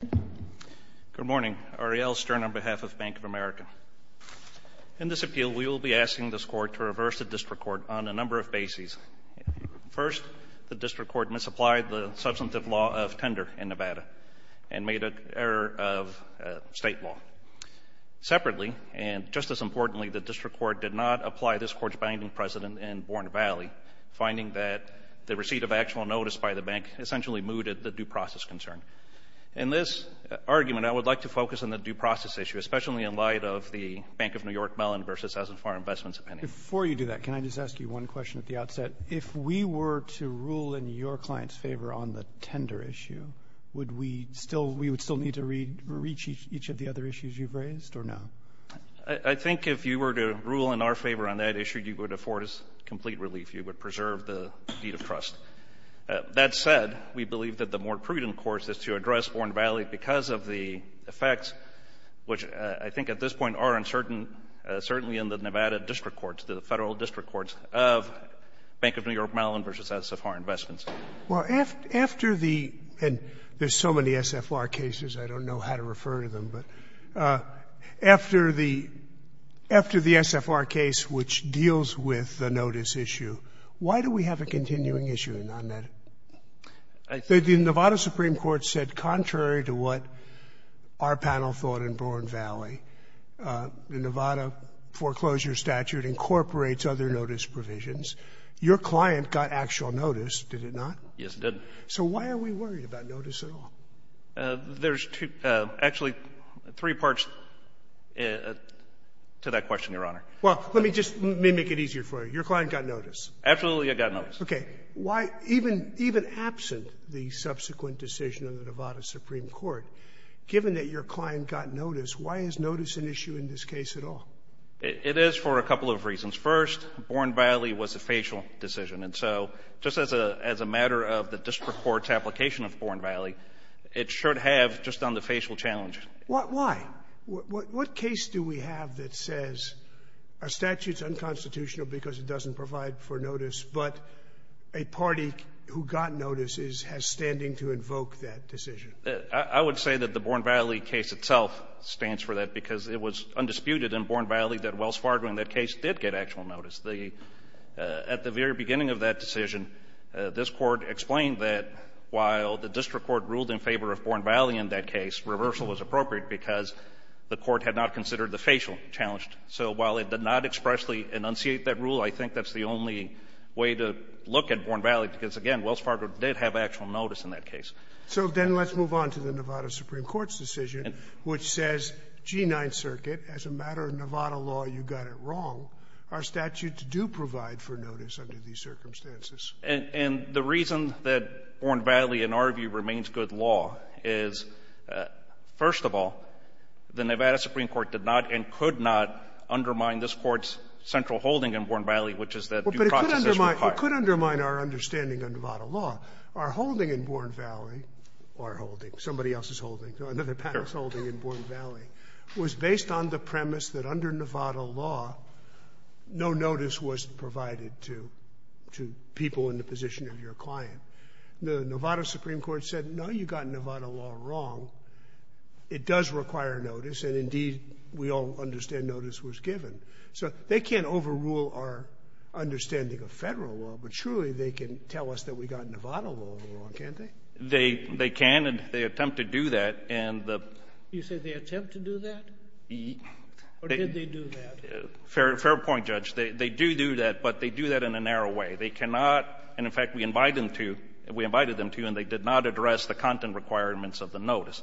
Good morning. Ariel Stern on behalf of Bank of America. In this appeal, we will be asking this Court to reverse the district court on a number of bases. First, the district court misapplied the substantive law of tender in Nevada and made an error of state law. Separately, and just as importantly, the district court did not apply this court's binding precedent in Borne Valley, finding that the receipt of actual notice by the bank essentially mooted the due process concern. In this argument, I would like to focus on the due process issue, especially in light of the Bank of New York-Mellon v. As-and-Far Investments opinion. Before you do that, can I just ask you one question at the outset? If we were to rule in your client's favor on the tender issue, would we still need to reach each of the other issues you've raised, or no? I think if you were to rule in our favor on that issue, you would afford us complete relief. You would preserve the deed of trust. That said, we believe that the more prudent course is to address Borne Valley because of the effects, which I think at this point are uncertain, certainly in the Nevada district courts, the Federal district courts of Bank of New York-Mellon v. As-and-Far Investments. Well, after the — and there's so many SFR cases, I don't know how to refer to them, but after the — after the SFR case, which deals with the notice issue, why do we have a continuing issue on that? The Nevada Supreme Court said contrary to what our panel thought in Borne Valley, the Nevada foreclosure statute incorporates other notice provisions. Your client got actual notice, did it not? Yes, it did. So why are we worried about notice at all? There's two — actually, three parts to that question, Your Honor. Well, let me just — let me make it easier for you. Your client got notice. Absolutely, I got notice. Okay. Why, even — even absent the subsequent decision of the Nevada Supreme Court, given that your client got notice, why is notice an issue in this case at all? It is for a couple of reasons. First, Borne Valley was a facial decision. And so just as a — as a matter of the district court's application of Borne Valley, it should have just done the facial challenge. Why? What case do we have that says our statute's unconstitutional because it doesn't provide for notice, but a party who got notice is — has standing to invoke that decision? I would say that the Borne Valley case itself stands for that because it was undisputed in Borne Valley that Wells Fargo in that case did get actual notice. The — at the very beginning of that decision, this Court explained that while the district court ruled in favor of Borne Valley in that case, reversal was appropriate because the Court had not considered the facial challenge. So while it did not expressly enunciate that rule, I think that's the only way to look at Borne Valley because, again, Wells Fargo did have actual notice in that case. So then let's move on to the Nevada Supreme Court's decision, which says, G-9 Circuit, as a matter of Nevada law, you got it wrong. Our statutes do provide for notice under these circumstances. And the reason that Borne Valley, in our view, remains good law is, first of all, the Nevada Supreme Court did not and could not undermine this Court's central holding in Borne Valley, which is that due process is required. Well, but it could undermine — it could undermine our understanding of Nevada law. Our holding in Borne Valley — our holding, somebody else's holding, another patent's holding in Borne Valley — was based on the premise that under Nevada law, no notice was provided to — to people in the position of your client. The Nevada Supreme Court said, no, you got Nevada law wrong. It does require notice. And, indeed, we all understand notice was given. So they can't overrule our understanding of Federal law, but surely they can tell us that we got Nevada law wrong, can't they? They — they can, and they attempt to do that. And the — You said they attempt to do that? Or did they do that? Fair — fair point, Judge. They — they do do that, but they do that in a narrow way. They cannot — and, in fact, we invite them to — we invited them to, and they did not address the content requirements of the notice.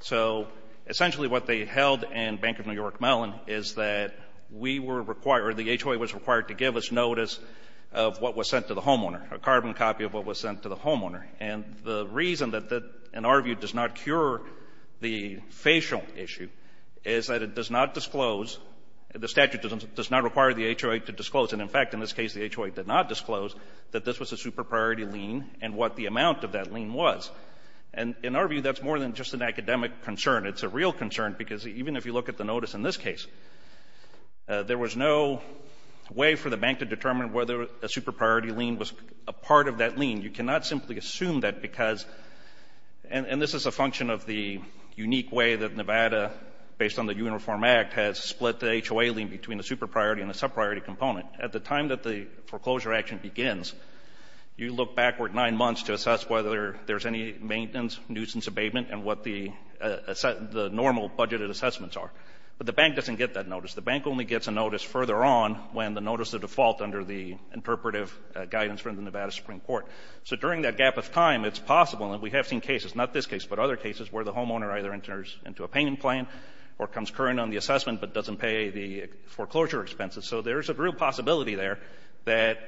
So, essentially, what they held in Bank of New York Mellon is that we were required — or the HOA was required to give us notice of what was sent to the homeowner, a carbon copy of what was sent to the homeowner. And the reason that that, in our view, does not cure the facial issue is that it does not disclose — the statute does not require the HOA to disclose. And, in fact, in this case, the HOA did not disclose that this was a super-priority lien was. And, in our view, that's more than just an academic concern. It's a real concern, because even if you look at the notice in this case, there was no way for the bank to determine whether a super-priority lien was a part of that lien. You cannot simply assume that because — and this is a function of the unique way that Nevada, based on the Uniform Act, has split the HOA lien between a super-priority and a sub-priority component. At the time that the foreclosure action begins, you look backward nine months to assess whether there's any maintenance, nuisance abatement, and what the normal budgeted assessments are. But the bank doesn't get that notice. The bank only gets a notice further on when the notice is a default under the interpretive guidance from the Nevada Supreme Court. So during that gap of time, it's possible — and we have seen cases, not this case, but other cases where the homeowner either enters into a payment plan or comes current on the assessment but doesn't pay the foreclosure expenses. So there's a real possibility there that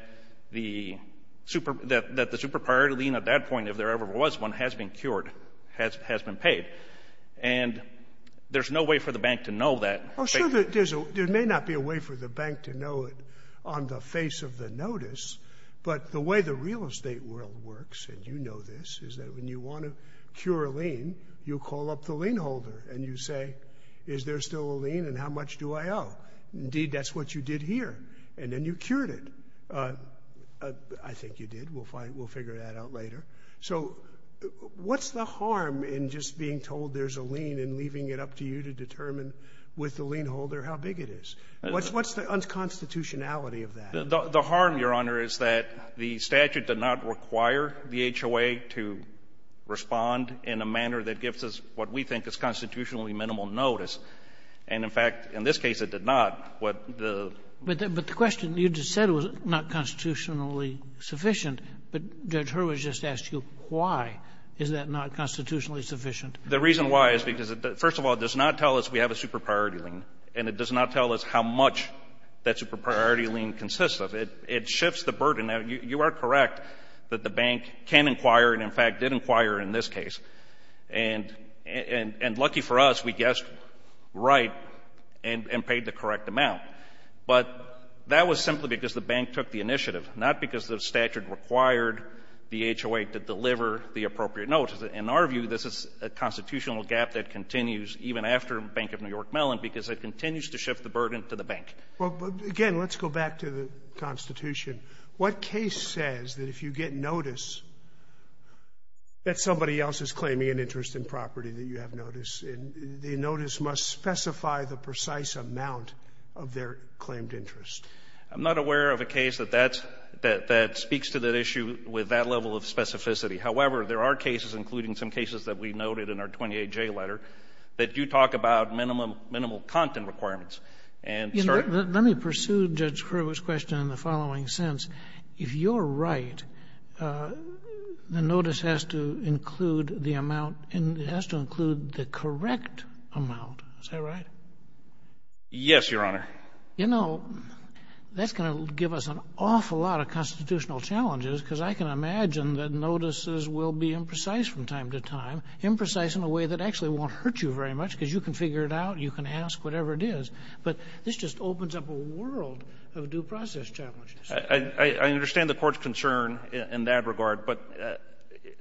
the super-priority lien at that point, if there ever was one, has been cured, has been paid. And there's no way for the bank to know that. Oh, sure. There may not be a way for the bank to know it on the face of the notice. But the way the real estate world works, and you know this, is that when you want to cure a lien, you call up the lien holder and you say, is there still a lien and how much do I owe? Indeed, that's what you did here. And then you cured it. I think you did. We'll figure that out later. So what's the harm in just being told there's a lien and leaving it up to you to determine with the lien holder how big it is? What's the unconstitutionality of that? The harm, Your Honor, is that the statute did not require the HOA to respond in a manner that gives us what we think is constitutionally minimal notice. And, in fact, in this case it did not. But the question, you just said it was not constitutionally sufficient. But Judge Hurwitz just asked you why is that not constitutionally sufficient. The reason why is because, first of all, it does not tell us we have a super priority lien. And it does not tell us how much that super priority lien consists of. It shifts the burden. You are correct that the bank can inquire and, in fact, did inquire in this case. And lucky for us, we guessed right and paid the correct amount. But that was simply because the bank took the initiative, not because the statute required the HOA to deliver the appropriate notice. In our view, this is a constitutional gap that continues even after Bank of New York Mellon because it continues to shift the burden to the bank. Well, again, let's go back to the Constitution. What case says that if you get notice that somebody else is claiming an interest in property that you have notice, the notice must specify the precise amount of their claimed interest? I'm not aware of a case that that's — that speaks to that issue with that level of specificity. However, there are cases, including some cases that we noted in our 28J letter, that do talk about minimum — minimal content requirements. And — Let me pursue Judge Kerbe's question in the following sense. If you're right, the notice has to include the amount — it has to include the correct amount. Is that right? Yes, Your Honor. You know, that's going to give us an awful lot of constitutional challenges because I can imagine that notices will be imprecise from time to time, imprecise in a way that actually won't hurt you very much because you can figure it out, you can ask whatever it is. But this just opens up a world of due process challenges. I understand the Court's concern in that regard, but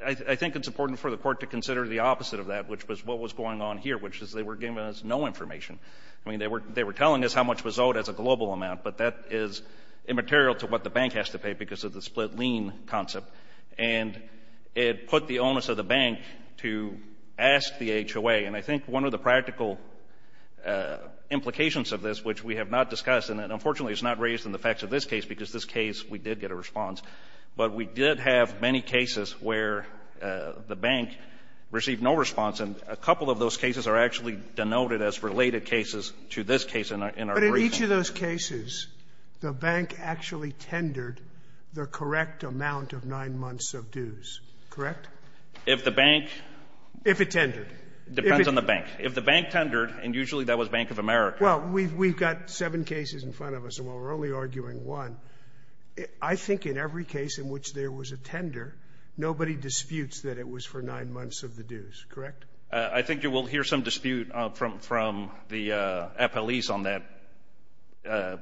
I think it's important for the Court to consider the opposite of that, which was what was going on here, which is they were giving us no information. I mean, they were telling us how much was owed as a global amount, but that is immaterial to what the bank has to pay because of the split lien concept. And it put the onus of the bank to ask the HOA. And I think one of the practical implications of this, which we have not discussed and that, unfortunately, is not raised in the facts of this case because this case, we did get a response, but we did have many cases where the bank received no response, and a couple of those cases are actually denoted as related cases to this case in our briefing. But in each of those cases, the bank actually tendered the correct amount of nine months of dues, correct? If the bank — If it tendered. It depends on the bank. If the bank tendered, and usually that was Bank of America. Well, we've got seven cases in front of us, and we're only arguing one. I think in every case in which there was a tender, nobody disputes that it was for nine months of the dues, correct? I think you will hear some dispute from the appellees on that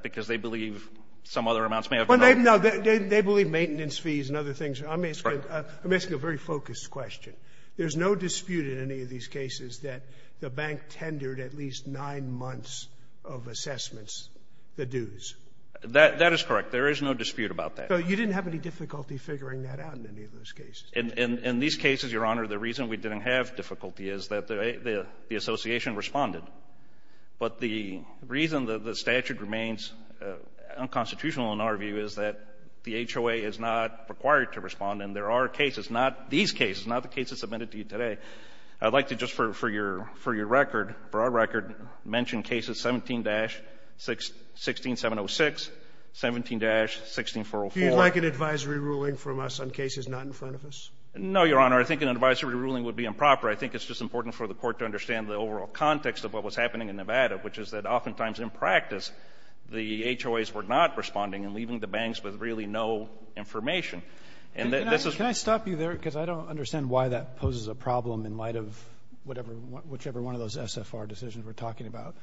because they believe some other amounts may have been owed. No, they believe maintenance fees and other things. I'm asking a very focused question. There's no dispute in any of these cases that the bank tendered at least nine months of assessments, the dues? That is correct. There is no dispute about that. So you didn't have any difficulty figuring that out in any of those cases? In these cases, Your Honor, the reason we didn't have difficulty is that the association responded. But the reason that the statute remains unconstitutional in our view is that the HOA is not required to respond. And there are cases, not these cases, not the cases submitted to you today. I'd like to just, for your record, for our record, mention cases 17-16706, 17-16404. Do you like an advisory ruling from us on cases not in front of us? No, Your Honor. I think an advisory ruling would be improper. I think it's just important for the Court to understand the overall context of what was happening in Nevada, which is that oftentimes in practice the HOAs were not responding and leaving the banks with really no information. And this is why. Can I stop you there? Because I don't understand why that poses a problem in light of whatever, whichever one of those SFR decisions we're talking about.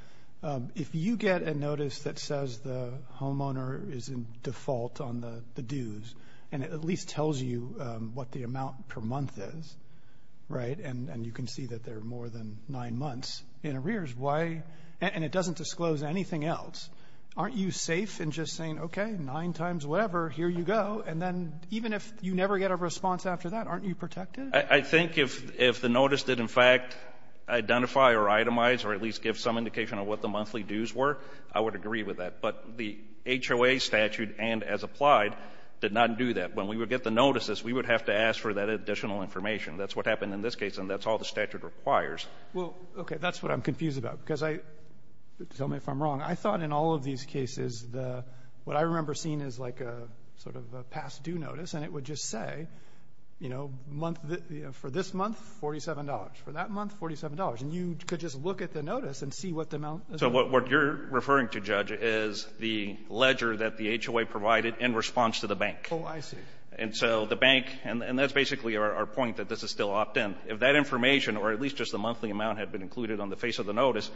If you get a notice that says the homeowner is in default on the dues, and it at least tells you what the amount per month is, right, and you can see that there are more than nine months in arrears, why — and it doesn't disclose anything else. Aren't you safe in just saying, okay, nine times whatever, here you go, and then even if you never get a response after that, aren't you protected? I think if the notice did, in fact, identify or itemize or at least give some indication of what the monthly dues were, I would agree with that. But the HOA statute and as applied did not do that. When we would get the notices, we would have to ask for that additional information. That's what happened in this case, and that's all the statute requires. Well, okay. That's what I'm confused about, because I — tell me if I'm wrong. I thought in all of these cases the — what I remember seeing is like a sort of a past due notice, and it would just say, you know, month — for this month, $47. For that month, $47. And you could just look at the notice and see what the amount is. So what you're referring to, Judge, is the ledger that the HOA provided in response to the bank. Oh, I see. And so the bank — and that's basically our point, that this is still opt-in. If that information or at least just the monthly amount had been included on the face of the notice,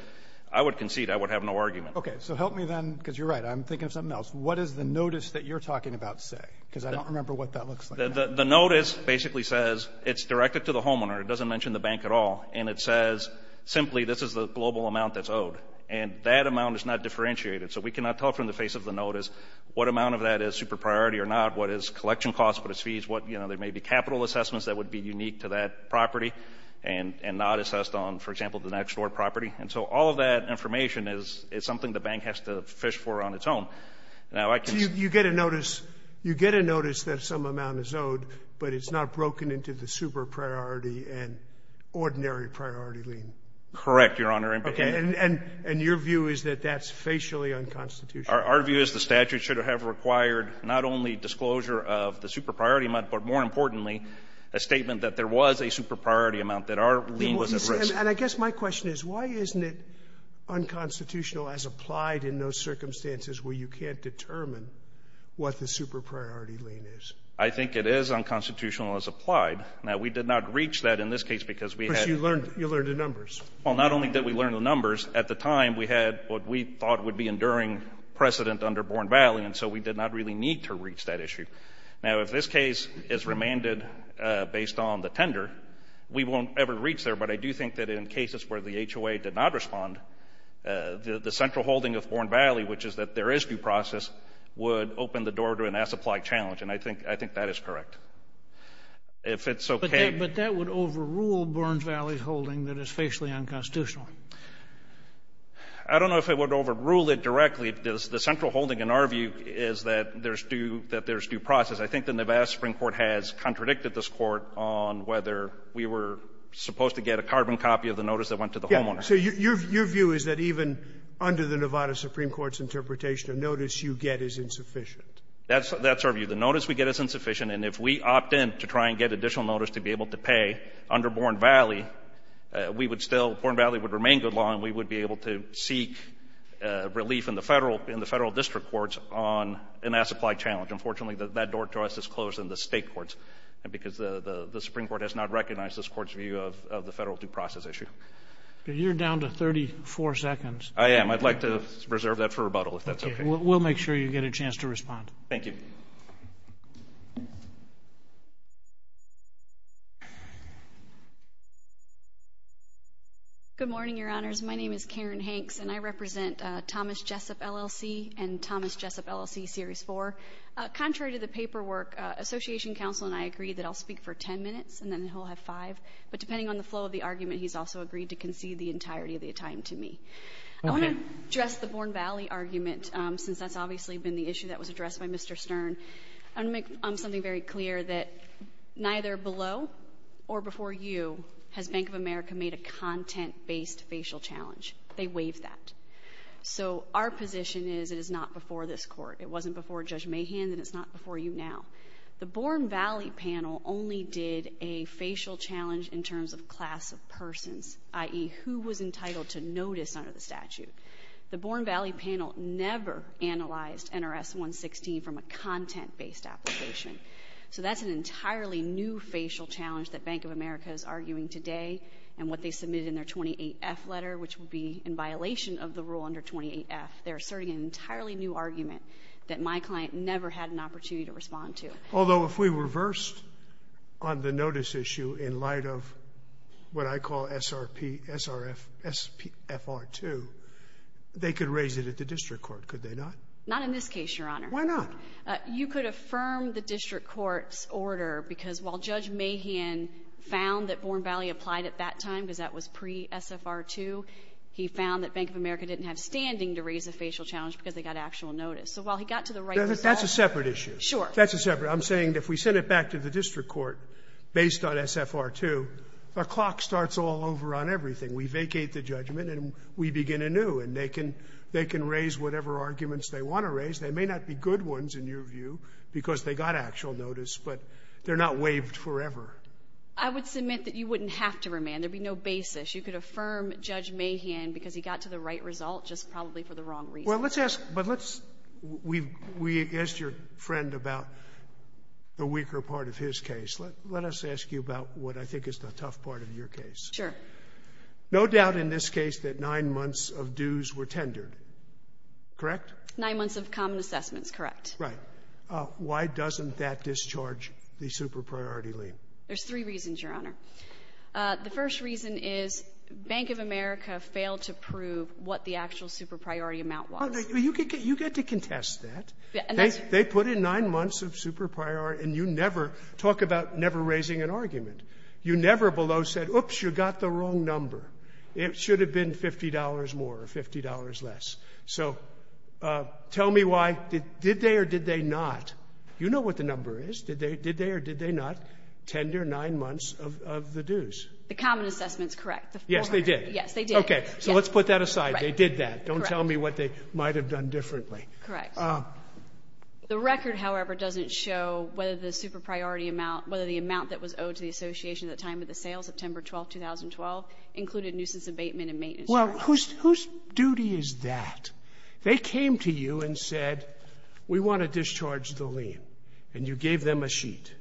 I would concede I would have no argument. Okay. So help me then, because you're right. I'm thinking of something else. What does the notice that you're talking about say? Because I don't remember what that looks like. The notice basically says it's directed to the homeowner. It doesn't mention the bank at all. And it says simply this is the global amount that's owed. And that amount is not differentiated. So we cannot tell from the face of the notice what amount of that is super priority or not, what is collection costs, what is fees, what — you know, there may be capital assessments that would be unique to that property and not assessed on, for example, the next-door property. And so all of that information is something the bank has to fish for on its own. Now, I can — So you get a notice — you get a notice that some amount is owed, but it's not broken into the super priority and ordinary priority lien? Correct, Your Honor. Okay. And your view is that that's facially unconstitutional? Our view is the statute should have required not only disclosure of the super priority amount, but more importantly, a statement that there was a super priority amount, that our lien was at risk. And I guess my question is, why isn't it unconstitutional as applied in those circumstances where you can't determine what the super priority lien is? I think it is unconstitutional as applied. Now, we did not reach that in this case because we had — But you learned — you learned the numbers. Well, not only did we learn the numbers, at the time we had what we thought would be enduring precedent under Bourne Valley, and so we did not really need to reach that issue. Now, if this case is remanded based on the tender, we won't ever reach there. But I do think that in cases where the HOA did not respond, the central holding of Bourne Valley, which is that there is due process, would open the door to an as-applied challenge. And I think — I think that is correct. If it's okay — But that — but that would overrule Bourne Valley's holding that it's facially unconstitutional. I don't know if it would overrule it directly. The central holding, in our view, is that there's due — that there's due process. I think the Nevada Supreme Court has contradicted this Court on whether we were supposed to get a carbon copy of the notice that went to the homeowner. So your view is that even under the Nevada Supreme Court's interpretation, a notice you get is insufficient? That's our view. The notice we get is insufficient, and if we opt in to try and get additional notice to be able to pay under Bourne Valley, we would still — Bourne Valley would remain good law and we would be able to seek relief in the Federal — in the Federal district courts on an as-applied challenge. Unfortunately, that door to us is closed in the state courts because the Supreme Court has not recognized this Court's view of the Federal due process issue. You're down to 34 seconds. I am. I'd like to reserve that for rebuttal, if that's okay. We'll make sure you get a chance to respond. Thank you. Good morning, Your Honors. My name is Karen Hanks, and I represent Thomas Jessup, LLC, and Thomas Jessup, LLC, Series 4. Contrary to the paperwork, Association Counsel and I agree that I'll speak for 10 minutes, and then he'll have five. But depending on the flow of the argument, he's also agreed to concede the entirety of the time to me. Okay. I want to address the Bourne Valley argument, since that's obviously been the issue that was addressed by Mr. Stern. I want to make something very clear that neither below or before you has Bank of America made a content-based facial challenge. They waived that. So our position is it is not before this Court. It wasn't before Judge Mahan, and it's not before you now. The Bourne Valley panel only did a facial challenge in terms of class of persons, i.e., who was entitled to notice under the statute. The Bourne Valley panel never analyzed NRS 116 from a content-based application. So that's an entirely new facial challenge that Bank of America is arguing today, and what they submitted in their 28F letter, which would be in violation of the rule under 28F. They're asserting an entirely new argument that my client never had an opportunity to respond to. Although if we reversed on the notice issue in light of what I call SRP, SRF, SPFR 2, they could raise it at the district court, could they not? Not in this case, Your Honor. Why not? You could affirm the district court's order, because while Judge Mahan found that Bourne Valley applied at that time, because that was pre-SFR 2, he found that Bank of America didn't have standing to raise a facial challenge because they got actual notice. So while he got to the right result. That's a separate issue. Sure. That's a separate. I'm saying if we send it back to the district court based on SFR 2, the clock starts all over on everything. they want to raise. They may not be good ones, in your view, because they got actual notice, but they're not waived forever. I would submit that you wouldn't have to remand. There would be no basis. You could affirm Judge Mahan because he got to the right result, just probably for the wrong reason. Well, let's ask, but let's, we asked your friend about the weaker part of his case. Let us ask you about what I think is the tough part of your case. Sure. No doubt in this case that nine months of dues were tendered, correct? Nine months of common assessments, correct. Right. Why doesn't that discharge the super-priority lien? There's three reasons, Your Honor. The first reason is Bank of America failed to prove what the actual super-priority amount was. You get to contest that. They put in nine months of super-priority, and you never talk about never raising an argument. You never below said, oops, you got the wrong number. It should have been $50 more or $50 less. So tell me why. Did they or did they not? You know what the number is. Did they or did they not tender nine months of the dues? The common assessment is correct. Yes, they did. Yes, they did. Okay. So let's put that aside. They did that. Correct. Don't tell me what they might have done differently. Correct. The record, however, doesn't show whether the super-priority amount, whether the amount that was owed to the association at the time of the sale, September 12, 2012, included nuisance abatement and maintenance charges. Well, whose duty is that? They came to you and said, we want to discharge the lien, and you gave them a sheet.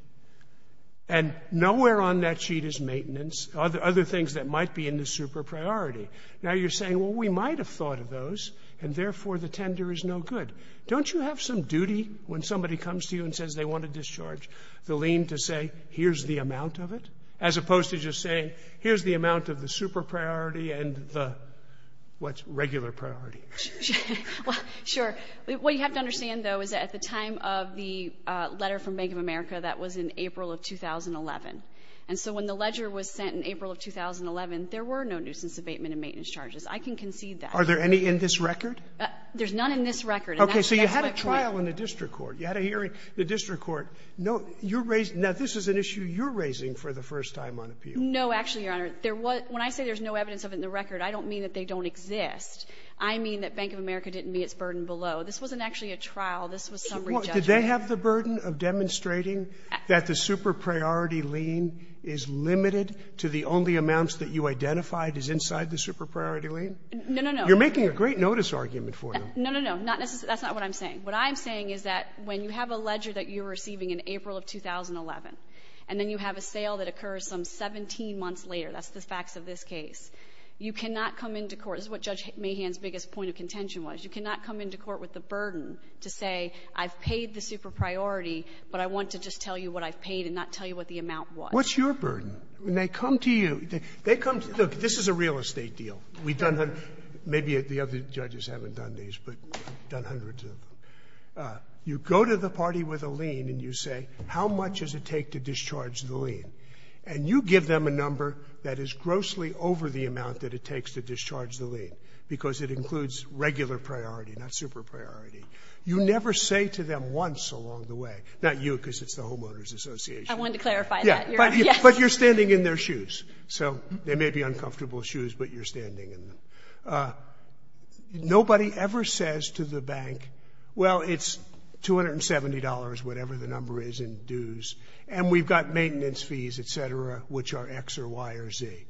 And nowhere on that sheet is maintenance, other things that might be in the super-priority. Now you're saying, well, we might have thought of those, and therefore the tender is no good. Don't you have some duty when somebody comes to you and says they want to discharge the lien to say, here's the amount of it, as opposed to just saying, here's the amount of the super-priority and the, what, regular priority? Sure. What you have to understand, though, is that at the time of the letter from Bank of America, that was in April of 2011. And so when the ledger was sent in April of 2011, there were no nuisance abatement and maintenance charges. I can concede that. Are there any in this record? There's none in this record. Okay. So you had a trial in the district court. You had a hearing in the district court. Now, this is an issue you're raising for the first time on appeal. No, actually, Your Honor. When I say there's no evidence of it in the record, I don't mean that they don't exist. I mean that Bank of America didn't meet its burden below. This wasn't actually a trial. This was summary judgment. Did they have the burden of demonstrating that the super-priority lien is limited to the only amounts that you identified as inside the super-priority lien? No, no, no. You're making a great notice argument for them. No, no, no. That's not what I'm saying. What I'm saying is that when you have a ledger that you're receiving in April of 2011, and then you have a sale that occurs some 17 months later, that's the facts of this case, you cannot come into court. This is what Judge Mahan's biggest point of contention was. You cannot come into court with the burden to say I've paid the super-priority, but I want to just tell you what I've paid and not tell you what the amount was. What's your burden? When they come to you, they come to you. Look, this is a real estate deal. We've done hundreds. Maybe the other judges haven't done these, but we've done hundreds of them. You go to the party with a lien and you say, how much does it take to discharge the lien? And you give them a number that is grossly over the amount that it takes to discharge the lien, because it includes regular priority, not super-priority. You never say to them once along the way, not you, because it's the Homeowners Association. I wanted to clarify that. Yes. But you're standing in their shoes. So they may be uncomfortable shoes, but you're standing in them. Nobody ever says to the bank, well, it's $270, whatever the number is in dues, and we've got maintenance fees, et cetera, which are X or Y or Z.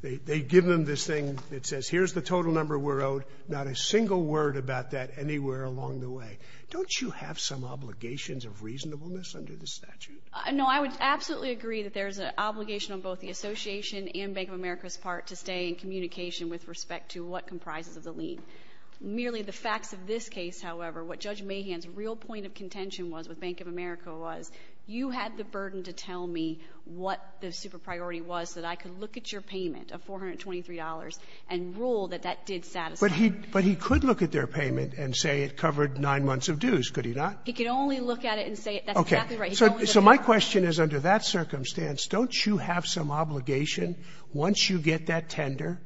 They give them this thing that says here's the total number we're owed, not a single word about that anywhere along the way. Don't you have some obligations of reasonableness under the statute? No, I would absolutely agree that there's an obligation on both the Association and Bank of America's part to stay in communication with respect to what comprises of the lien. Merely the facts of this case, however, what Judge Mahan's real point of contention was with Bank of America was you had the burden to tell me what the super-priority was so that I could look at your payment of $423 and rule that that did satisfy. But he could look at their payment and say it covered nine months of dues, could he not? He could only look at it and say it. That's exactly right. So my question is under that circumstance, don't you have some obligation once you get that tender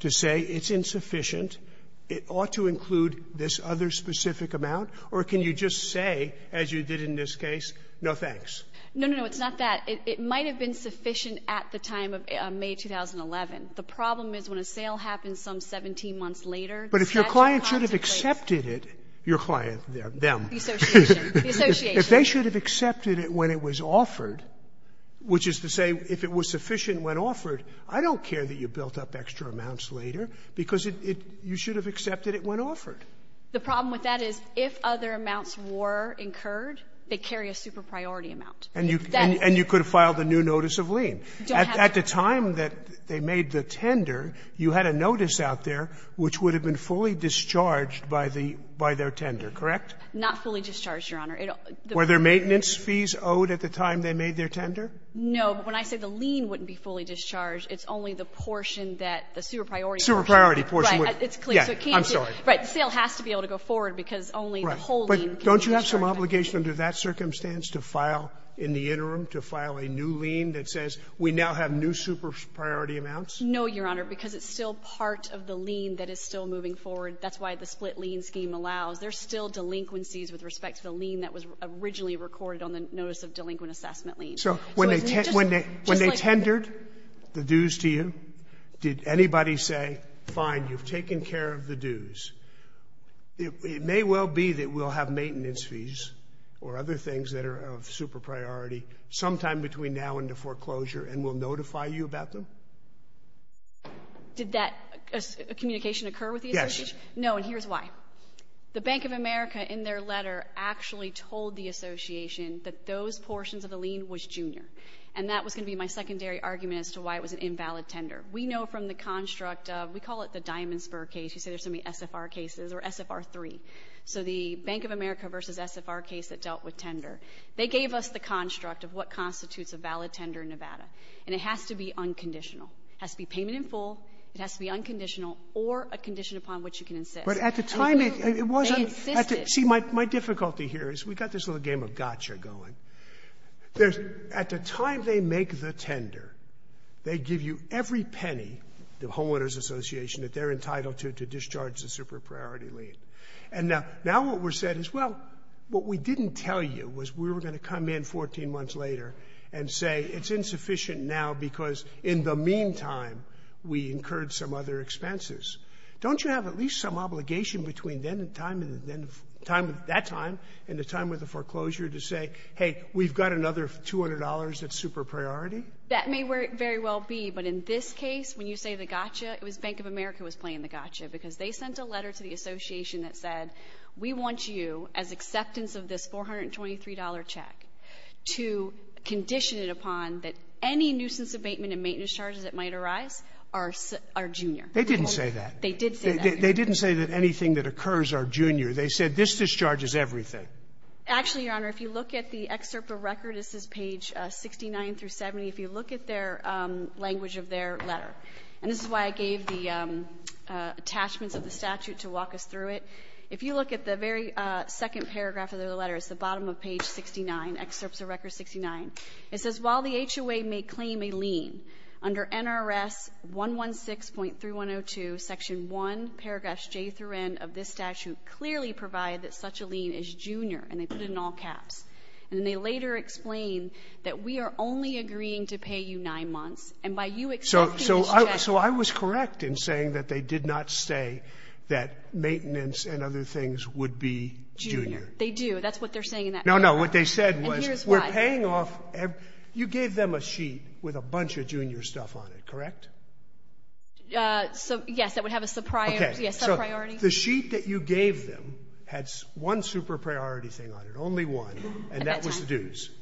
to say it's insufficient, it ought to include this other specific amount, or can you just say, as you did in this case, no thanks? No, no, no. It's not that. It might have been sufficient at the time of May 2011. The problem is when a sale happens some 17 months later, the statute possibly But if your client should have accepted it, your client, them. The Association. The Association. But if they should have accepted it when it was offered, which is to say if it was sufficient when offered, I don't care that you built up extra amounts later, because it you should have accepted it when offered. The problem with that is if other amounts were incurred, they carry a super-priority amount. And you could have filed a new notice of lien. Don't have to. At the time that they made the tender, you had a notice out there which would have been fully discharged by their tender, correct? Not fully discharged, Your Honor. Were there maintenance fees owed at the time they made their tender? No. But when I say the lien wouldn't be fully discharged, it's only the portion that the super-priority portion. Super-priority portion. Right. It's clear. I'm sorry. Right. The sale has to be able to go forward because only the whole lien can be discharged. Right. But don't you have some obligation under that circumstance to file in the interim, to file a new lien that says we now have new super-priority amounts? No, Your Honor, because it's still part of the lien that is still moving forward. That's why the split lien scheme allows. There's still delinquencies with respect to the lien that was originally recorded on the notice of delinquent assessment lien. So when they tendered the dues to you, did anybody say, fine, you've taken care of the dues. It may well be that we'll have maintenance fees or other things that are of super-priority sometime between now and the foreclosure and we'll notify you about them? Did that communication occur with the association? Yes. No, and here's why. The Bank of America in their letter actually told the association that those portions of the lien was junior, and that was going to be my secondary argument as to why it was an invalid tender. We know from the construct of, we call it the Diamond Spur case. You say there's so many SFR cases or SFR-3. So the Bank of America v. SFR case that dealt with tender, they gave us the construct of what constitutes a valid tender in Nevada, and it has to be unconditional. It has to be payment in full. It has to be unconditional or a condition upon which you can insist. But at the time it wasn't. They insisted. See, my difficulty here is we've got this little game of gotcha going. At the time they make the tender, they give you every penny, the homeowners association, that they're entitled to to discharge the super-priority lien. And now what was said is, well, what we didn't tell you was we were going to come in 14 months later and say it's insufficient now because in the meantime we incurred some other expenses. Don't you have at least some obligation between then and time, that time, and the time with the foreclosure to say, hey, we've got another $200 at super-priority? That may very well be, but in this case, when you say the gotcha, it was Bank of America was playing the gotcha because they sent a letter to the association that said, we want you, as acceptance of this $423 check, to condition it upon that any nuisance abatement and maintenance charges that might arise are junior. They didn't say that. They did say that. They didn't say that anything that occurs are junior. They said this discharges everything. Actually, Your Honor, if you look at the excerpt of record, this is page 69 through 70. If you look at their language of their letter, and this is why I gave the attachments of the statute to walk us through it, if you look at the very second paragraph of the letter, it's the bottom of page 69, excerpts of record 69. It says, while the HOA may claim a lien, under NRS 116.3102, section 1, paragraph J through N of this statute clearly provide that such a lien is junior, and they put it in all caps. And they later explain that we are only agreeing to pay you nine months, and by you accepting this check. So I was correct in saying that they did not say that maintenance and other things would be junior. They do. That's what they're saying in that paragraph. And what they said was, we're paying off every — you gave them a sheet with a bunch of junior stuff on it, correct? So, yes. That would have a subpriority. Okay. Subpriority. The sheet that you gave them had one super priority thing on it, only one, and that was the dues. At that time.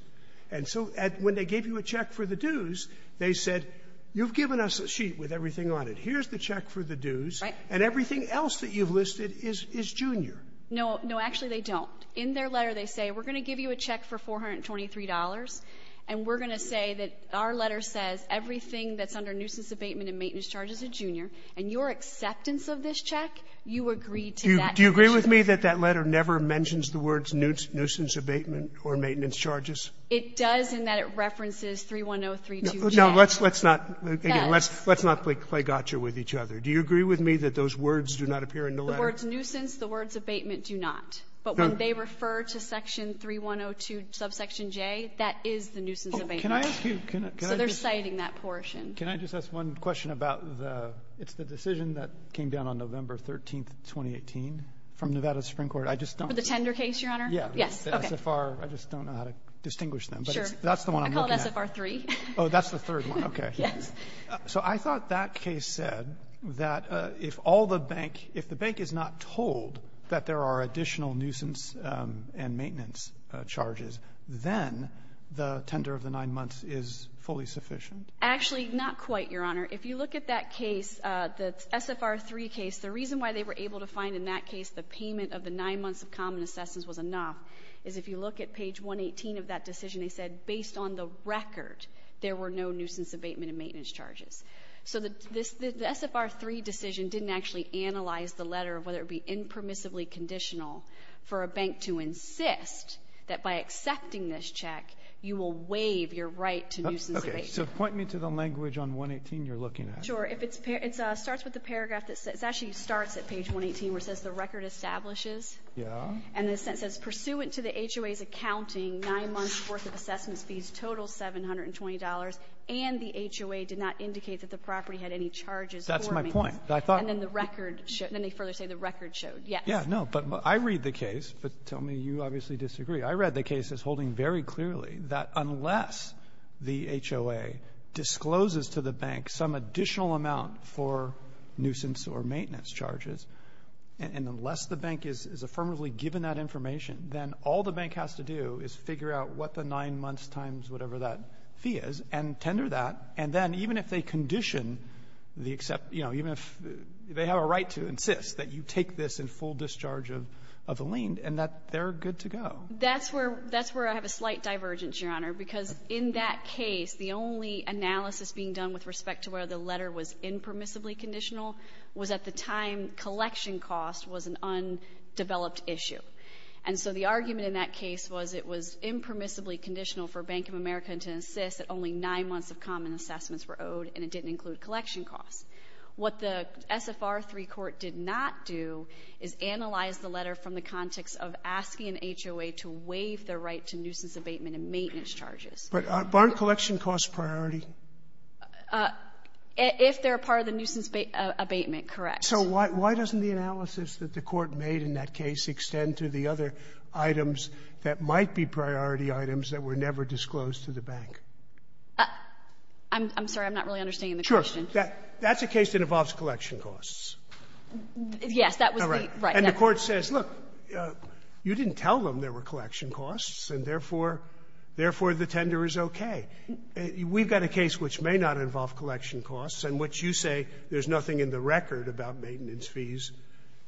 And so when they gave you a check for the dues, they said, you've given us a sheet with everything on it. Here's the check for the dues. Right. And everything else that you've listed is junior. No. No, actually, they don't. In their letter, they say, we're going to give you a check for $423, and we're going to say that our letter says everything that's under nuisance abatement and maintenance charges is junior, and your acceptance of this check, you agree to that. Do you agree with me that that letter never mentions the words nuisance abatement or maintenance charges? It does, in that it references 31032J. No, let's not play gotcha with each other. Do you agree with me that those words do not appear in the letter? The words nuisance, the words abatement do not. But when they refer to section 3102 subsection J, that is the nuisance abatement. Can I ask you? So they're citing that portion. Can I just ask one question about the decision that came down on November 13, 2018, from Nevada Supreme Court? For the tender case, Your Honor? Yes. The SFR, I just don't know how to distinguish them. But that's the one I'm looking at. I call it SFR 3. Oh, that's the third one. Okay. Yes. So I thought that case said that if the bank is not told that there are additional nuisance and maintenance charges, then the tender of the nine months is fully sufficient? Actually, not quite, Your Honor. If you look at that case, the SFR 3 case, the reason why they were able to find in that case the payment of the nine months of common assessments was enough is if you look at page 118 of that decision, they said based on the record there were no nuisance abatement and maintenance charges. So the SFR 3 decision didn't actually analyze the letter of whether it would be permissively conditional for a bank to insist that by accepting this check, you will waive your right to nuisance abatement. Okay. So point me to the language on 118 you're looking at. Sure. It starts with the paragraph that says the record establishes. Yeah. And it says pursuant to the HOA's accounting, nine months' worth of assessment fees total $720, and the HOA did not indicate that the property had any charges for maintenance. That's my point. And then the record showed the record showed, yes. Yeah. No. But I read the case, but tell me you obviously disagree. I read the case as holding very clearly that unless the HOA discloses to the bank some additional amount for nuisance or maintenance charges, and unless the bank is affirmatively given that information, then all the bank has to do is figure out what the nine months times whatever that fee is and tender that. And then even if they condition the except, you know, even if they have a right to insist that you take this in full discharge of the lien and that they're good to go. That's where I have a slight divergence, Your Honor, because in that case, the only analysis being done with respect to where the letter was impermissibly conditional was at the time collection cost was an undeveloped issue. And so the argument in that case was it was impermissibly conditional for Bank of America to open to insist that only nine months of common assessments were owed and it didn't include collection costs. What the SFR III court did not do is analyze the letter from the context of asking an HOA to waive the right to nuisance abatement and maintenance charges. But aren't collection costs priority? If they're part of the nuisance abatement, correct. So why doesn't the analysis that the Court made in that case extend to the other items that might be priority items that were never disclosed to the bank? I'm sorry. I'm not really understanding the question. Sure. That's a case that involves collection costs. Yes. That was the right. And the Court says, look, you didn't tell them there were collection costs, and therefore the tender is okay. We've got a case which may not involve collection costs and which you say there's nothing in the record about maintenance fees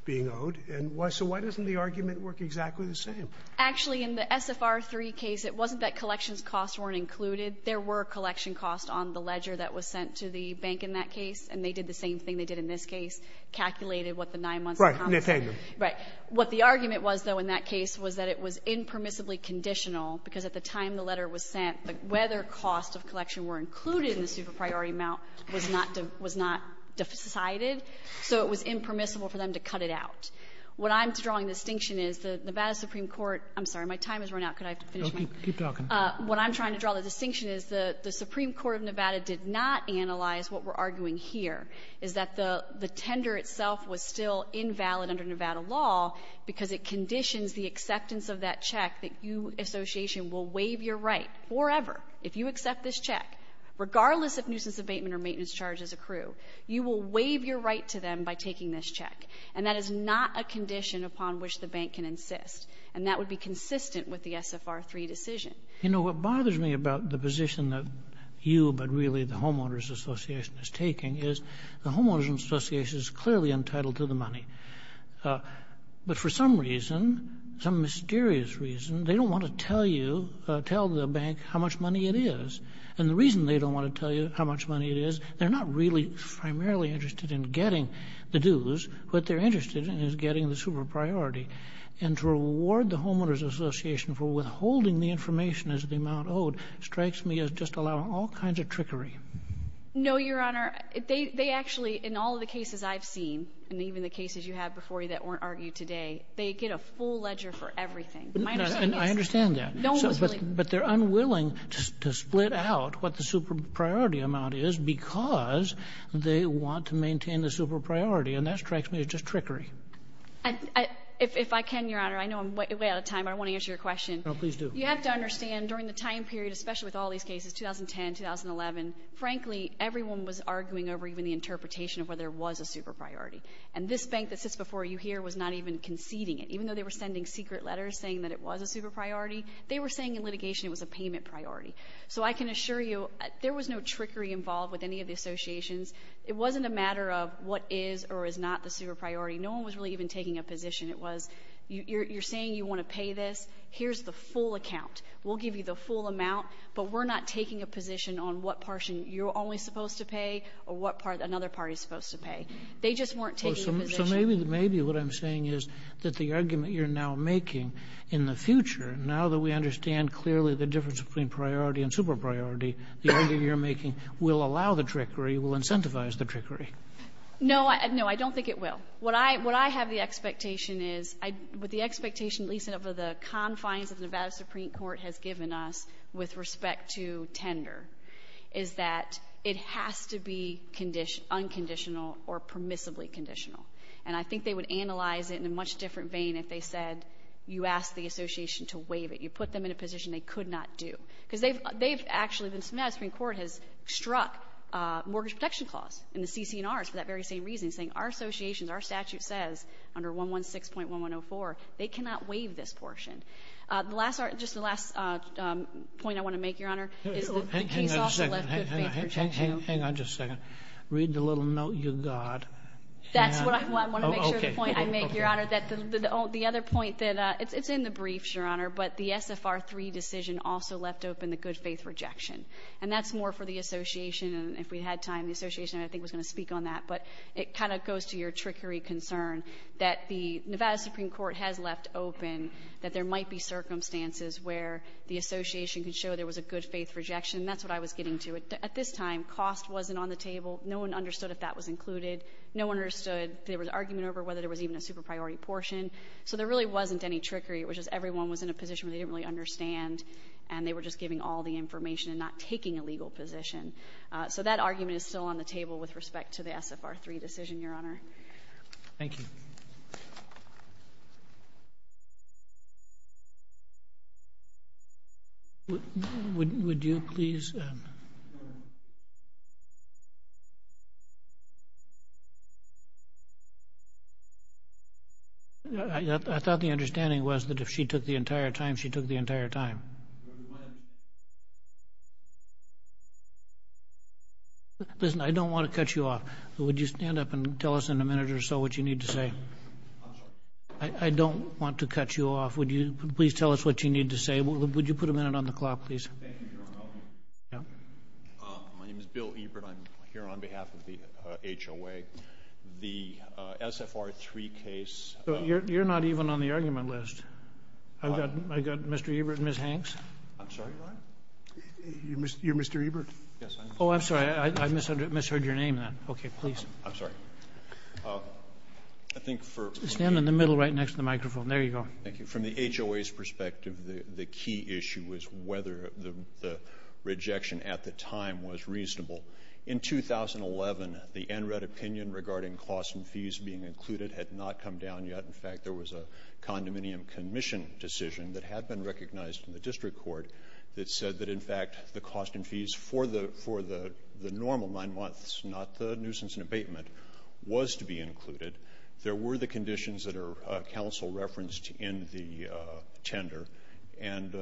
being owed. And so why doesn't the argument work exactly the same? Actually, in the SFR III case, it wasn't that collections costs weren't included. There were collection costs on the ledger that was sent to the bank in that case. And they did the same thing they did in this case, calculated what the nine months of common assessment. Right. Nathaniel. Right. What the argument was, though, in that case was that it was impermissibly conditional, because at the time the letter was sent, whether costs of collection were included in the super-priority amount was not decided, so it was impermissible for them to cut it out. What I'm drawing distinction is the Nevada Supreme Court — I'm sorry, my time has run out. Could I finish my — No, keep talking. What I'm trying to draw the distinction is the Supreme Court of Nevada did not analyze what we're arguing here, is that the tender itself was still invalid under Nevada law because it conditions the acceptance of that check that you, Association, will waive your right forever, if you accept this check, regardless if nuisance abatement or maintenance charges accrue. You will waive your right to them by taking this check, and that is not a condition upon which the bank can insist, and that would be consistent with the SFR 3 decision. You know, what bothers me about the position that you, but really the homeowners association, is taking is the homeowners association is clearly entitled to the money, but for some reason, some mysterious reason, they don't want to tell you, tell the bank how much money it is, and the reason they don't want to tell you how much money it is, they're not really primarily interested in getting the dues, what they're interested in is getting the super priority, and to reward the homeowners association for withholding the information as the amount owed strikes me as just allowing all kinds of trickery. No, Your Honor. They actually, in all the cases I've seen, and even the cases you have before you that weren't argued today, they get a full ledger for everything. I understand that. But they're unwilling to split out what the super priority amount is because they want to maintain the super priority, and that strikes me as just trickery. If I can, Your Honor, I know I'm way out of time, but I want to answer your question. No, please do. You have to understand during the time period, especially with all these cases, 2010, 2011, frankly, everyone was arguing over even the interpretation of whether there was a super priority, and this bank that sits before you here was not even conceding it. They were saying in litigation it was a payment priority. So I can assure you there was no trickery involved with any of the associations. It wasn't a matter of what is or is not the super priority. No one was really even taking a position. It was you're saying you want to pay this. Here's the full account. We'll give you the full amount, but we're not taking a position on what portion you're only supposed to pay or what part another party is supposed to pay. They just weren't taking a position. So maybe what I'm saying is that the argument you're now making in the future, now that we understand clearly the difference between priority and super priority, the argument you're making will allow the trickery, will incentivize the trickery. No. No, I don't think it will. What I have the expectation is with the expectation at least of the confines of Nevada Supreme Court has given us with respect to tender is that it has to be unconditional or permissibly conditional. And I think they would analyze it in a much different vein if they said you asked the association to waive it. You put them in a position they could not do. Because they've actually, Nevada Supreme Court has struck mortgage protection clause in the CC&Rs for that very same reason, saying our association, our statute says under 116.1104 they cannot waive this portion. Just the last point I want to make, Your Honor, is that the case also left good faith protection. Hang on just a second. Read the little note you got. That's what I want to make sure the point I make, Your Honor. The other point that it's in the brief, Your Honor, but the SFR 3 decision also left open the good faith rejection. And that's more for the association. If we had time, the association I think was going to speak on that. But it kind of goes to your trickery concern that the Nevada Supreme Court has left open that there might be circumstances where the association could show there was a good faith rejection. That's what I was getting to. At this time, cost wasn't on the table. No one understood if that was included. No one understood if there was argument over whether there was even a super priority portion. So there really wasn't any trickery. It was just everyone was in a position where they didn't really understand, and they were just giving all the information and not taking a legal position. So that argument is still on the table with respect to the SFR 3 decision, Your Honor. Thank you. Thank you. Would you please? I thought the understanding was that if she took the entire time, she took the entire time. Listen, I don't want to cut you off. Would you stand up and tell us in a minute or so what you need to say? I'm sorry? I don't want to cut you off. Would you please tell us what you need to say? Would you put a minute on the clock, please? Thank you, Your Honor. My name is Bill Ebert. I'm here on behalf of the HOA. The SFR 3 case. You're not even on the argument list. I've got Mr. Ebert and Ms. Hanks. I'm sorry, Your Honor? You're Mr. Ebert? Yes, I am. Oh, I'm sorry. I misheard your name then. Okay, please. I'm sorry. Stand in the middle right next to the microphone. There you go. Thank you. From the HOA's perspective, the key issue was whether the rejection at the time was reasonable. In 2011, the NRED opinion regarding costs and fees being included had not come down yet. In fact, there was a condominium commission decision that had been recognized in the district court that said that, in fact, the cost and fees for the normal nine months, not the nuisance and abatement, was to be included. There were the conditions that are counsel referenced in the tender, and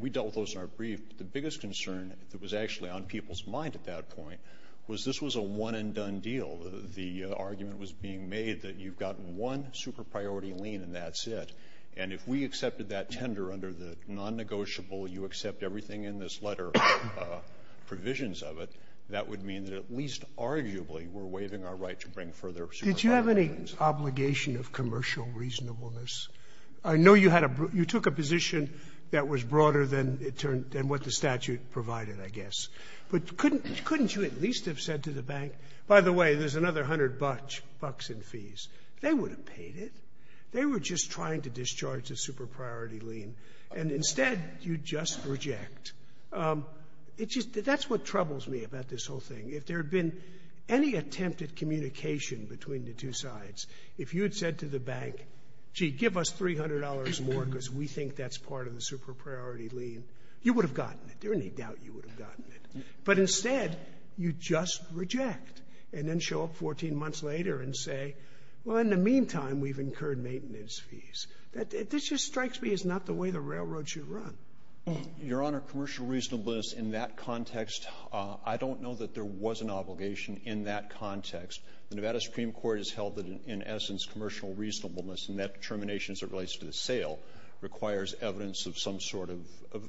we dealt with those in our brief. The biggest concern that was actually on people's mind at that point was this was a one-and-done deal. The argument was being made that you've got one super-priority lien and that's it. And if we accepted that tender under the non-negotiable, you accept everything in this letter provisions of it, that would mean that at least arguably we're waiving our right to bring further super-priority liens. Did you have any obligation of commercial reasonableness? I know you had a you took a position that was broader than what the statute provided, I guess. But couldn't you at least have said to the bank, by the way, there's another hundred bucks in fees? They would have paid it. They were just trying to discharge the super-priority lien. And instead, you just reject. It just — that's what troubles me about this whole thing. If there had been any attempt at communication between the two sides, if you had said to the bank, gee, give us $300 more because we think that's part of the super-priority lien, you would have gotten it. There's no doubt you would have gotten it. But instead, you just reject and then show up 14 months later and say, well, in the meantime, we've incurred maintenance fees. This just strikes me as not the way the railroad should run. Your Honor, commercial reasonableness in that context, I don't know that there was an obligation in that context. The Nevada Supreme Court has held that, in essence, commercial reasonableness and that termination as it relates to the sale requires evidence of some sort of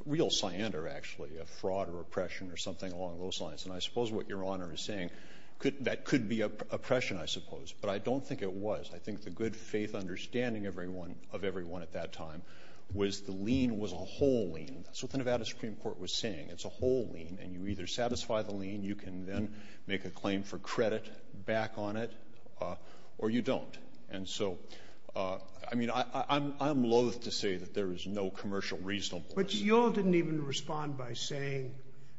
real cyander, actually, a fraud or oppression or something along those lines. And I suppose what Your Honor is saying, that could be oppression, I suppose. But I don't think it was. I think the good faith understanding of everyone at that time was the lien was a whole lien. That's what the Nevada Supreme Court was saying. It's a whole lien, and you either satisfy the lien, you can then make a claim for credit back on it, or you don't. And so, I mean, I'm loathe to say that there is no commercial reasonableness. But you all didn't even respond by saying,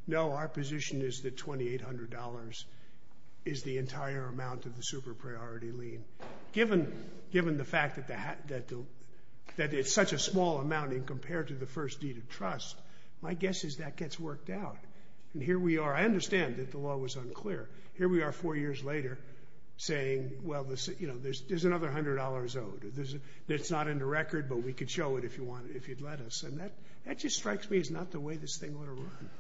no, our position is that $2,800 is the entire amount of the super-priority lien. And given the fact that it's such a small amount compared to the first deed of trust, my guess is that gets worked out. And here we are. I understand that the law was unclear. Here we are four years later saying, well, there's another $100 owed. It's not in the record, but we could show it if you'd let us. And that just strikes me as not the way this thing ought to run.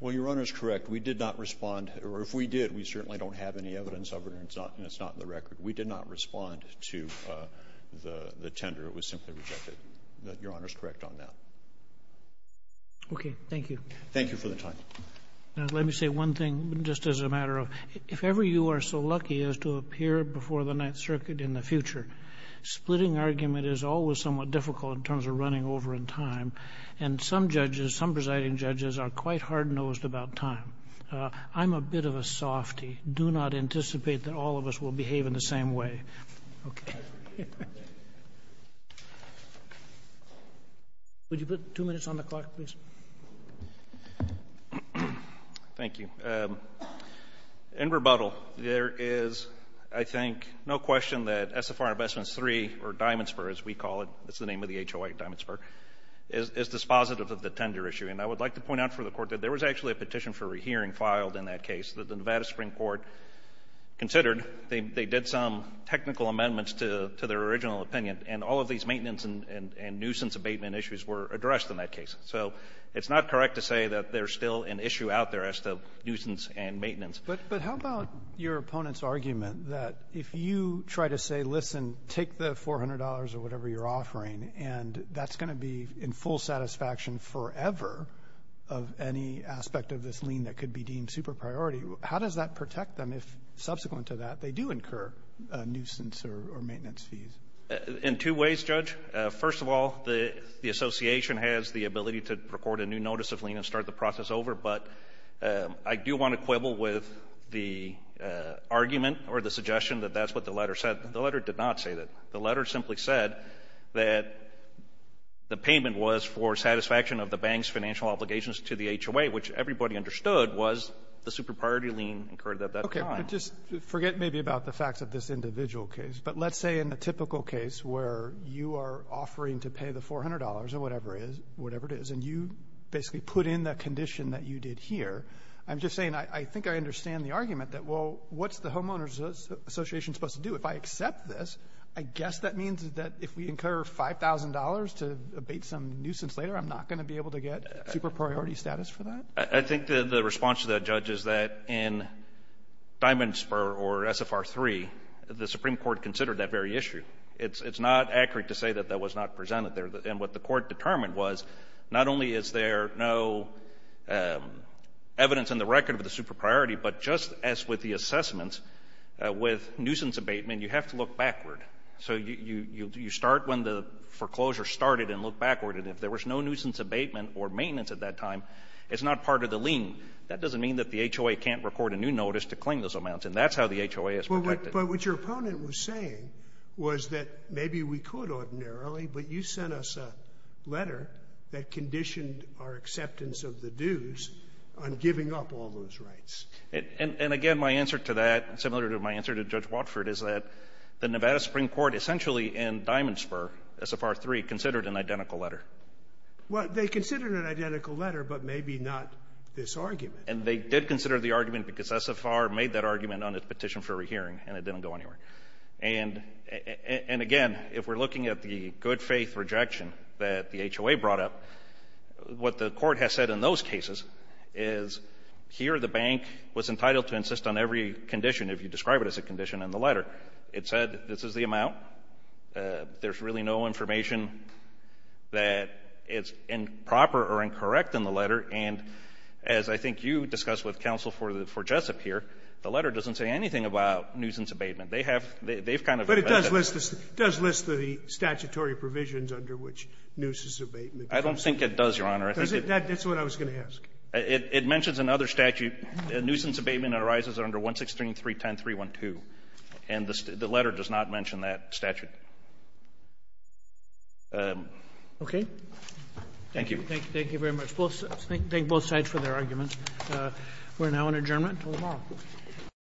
Well, Your Honor is correct. We did not respond. Or if we did, we certainly don't have any evidence of it, and it's not in the record. We did not respond to the tender. It was simply rejected. Your Honor is correct on that. Okay. Thank you. Thank you for the time. Let me say one thing, just as a matter of, if ever you are so lucky as to appear before the Ninth Circuit in the future, splitting argument is always somewhat difficult in terms of running over in time. And some judges, some presiding judges, are quite hard-nosed about time. I'm a bit of a softy. I do not anticipate that all of us will behave in the same way. Okay. Would you put two minutes on the clock, please? Thank you. In rebuttal, there is, I think, no question that SFR Investments III, or Diamondspur as we call it, that's the name of the HOA, Diamondspur, is dispositive of the tender issue. And I would like to point out for the Court that there was actually a petition for a hearing filed in that case that the Nevada Supreme Court considered. They did some technical amendments to their original opinion, and all of these maintenance and nuisance abatement issues were addressed in that case. So it's not correct to say that there's still an issue out there as to nuisance and maintenance. But how about your opponent's argument that if you try to say, listen, take the $400 or whatever you're offering, and that's going to be in full satisfaction forever of any aspect of this lien that could be deemed super priority, how does that protect them if, subsequent to that, they do incur nuisance or maintenance fees? In two ways, Judge. First of all, the Association has the ability to record a new notice of lien and start the process over. But I do want to quibble with the argument or the suggestion that that's what the letter said. The letter did not say that. The letter simply said that the payment was for satisfaction of the bank's financial obligations to the HOA, which everybody understood was the super priority lien incurred at that time. Okay. But just forget maybe about the facts of this individual case. But let's say in the typical case where you are offering to pay the $400 or whatever it is, and you basically put in the condition that you did here, I'm just saying I think I understand the argument that, well, what's the Homeowners Association supposed to do? If I accept this, I guess that means that if we incur $5,000 to abate some nuisance later, I'm not going to be able to get super priority status for that? I think the response to that, Judge, is that in Diamond Spur or SFR 3, the Supreme Court considered that very issue. It's not accurate to say that that was not presented there. And what the Court determined was not only is there no evidence in the record of the assessments with nuisance abatement, you have to look backward. So you start when the foreclosure started and look backward. And if there was no nuisance abatement or maintenance at that time, it's not part of the lien. That doesn't mean that the HOA can't record a new notice to claim those amounts. And that's how the HOA is protected. But what your opponent was saying was that maybe we could ordinarily, but you sent us a letter that conditioned our acceptance of the dues on giving up all those rights. And again, my answer to that, similar to my answer to Judge Watford, is that the Nevada Supreme Court essentially in Diamond Spur, SFR 3, considered an identical letter. Well, they considered an identical letter, but maybe not this argument. And they did consider the argument because SFR made that argument on its petition for rehearing, and it didn't go anywhere. And again, if we're looking at the good-faith rejection that the HOA brought up, what the Court has said in those cases is here the bank was entitled to insist on every condition, if you describe it as a condition, in the letter. It said this is the amount. There's really no information that is improper or incorrect in the letter. And as I think you discussed with counsel for Jessup here, the letter doesn't say anything about nuisance abatement. They have kind of ---- But it does list the statutory provisions under which nuisance abatement becomes I think it does, Your Honor. That's what I was going to ask. It mentions in other statute nuisance abatement arises under 163.310.312. And the letter does not mention that statute. Okay. Thank you. Thank you very much. Thank both sides for their arguments. We're now in adjournment until tomorrow.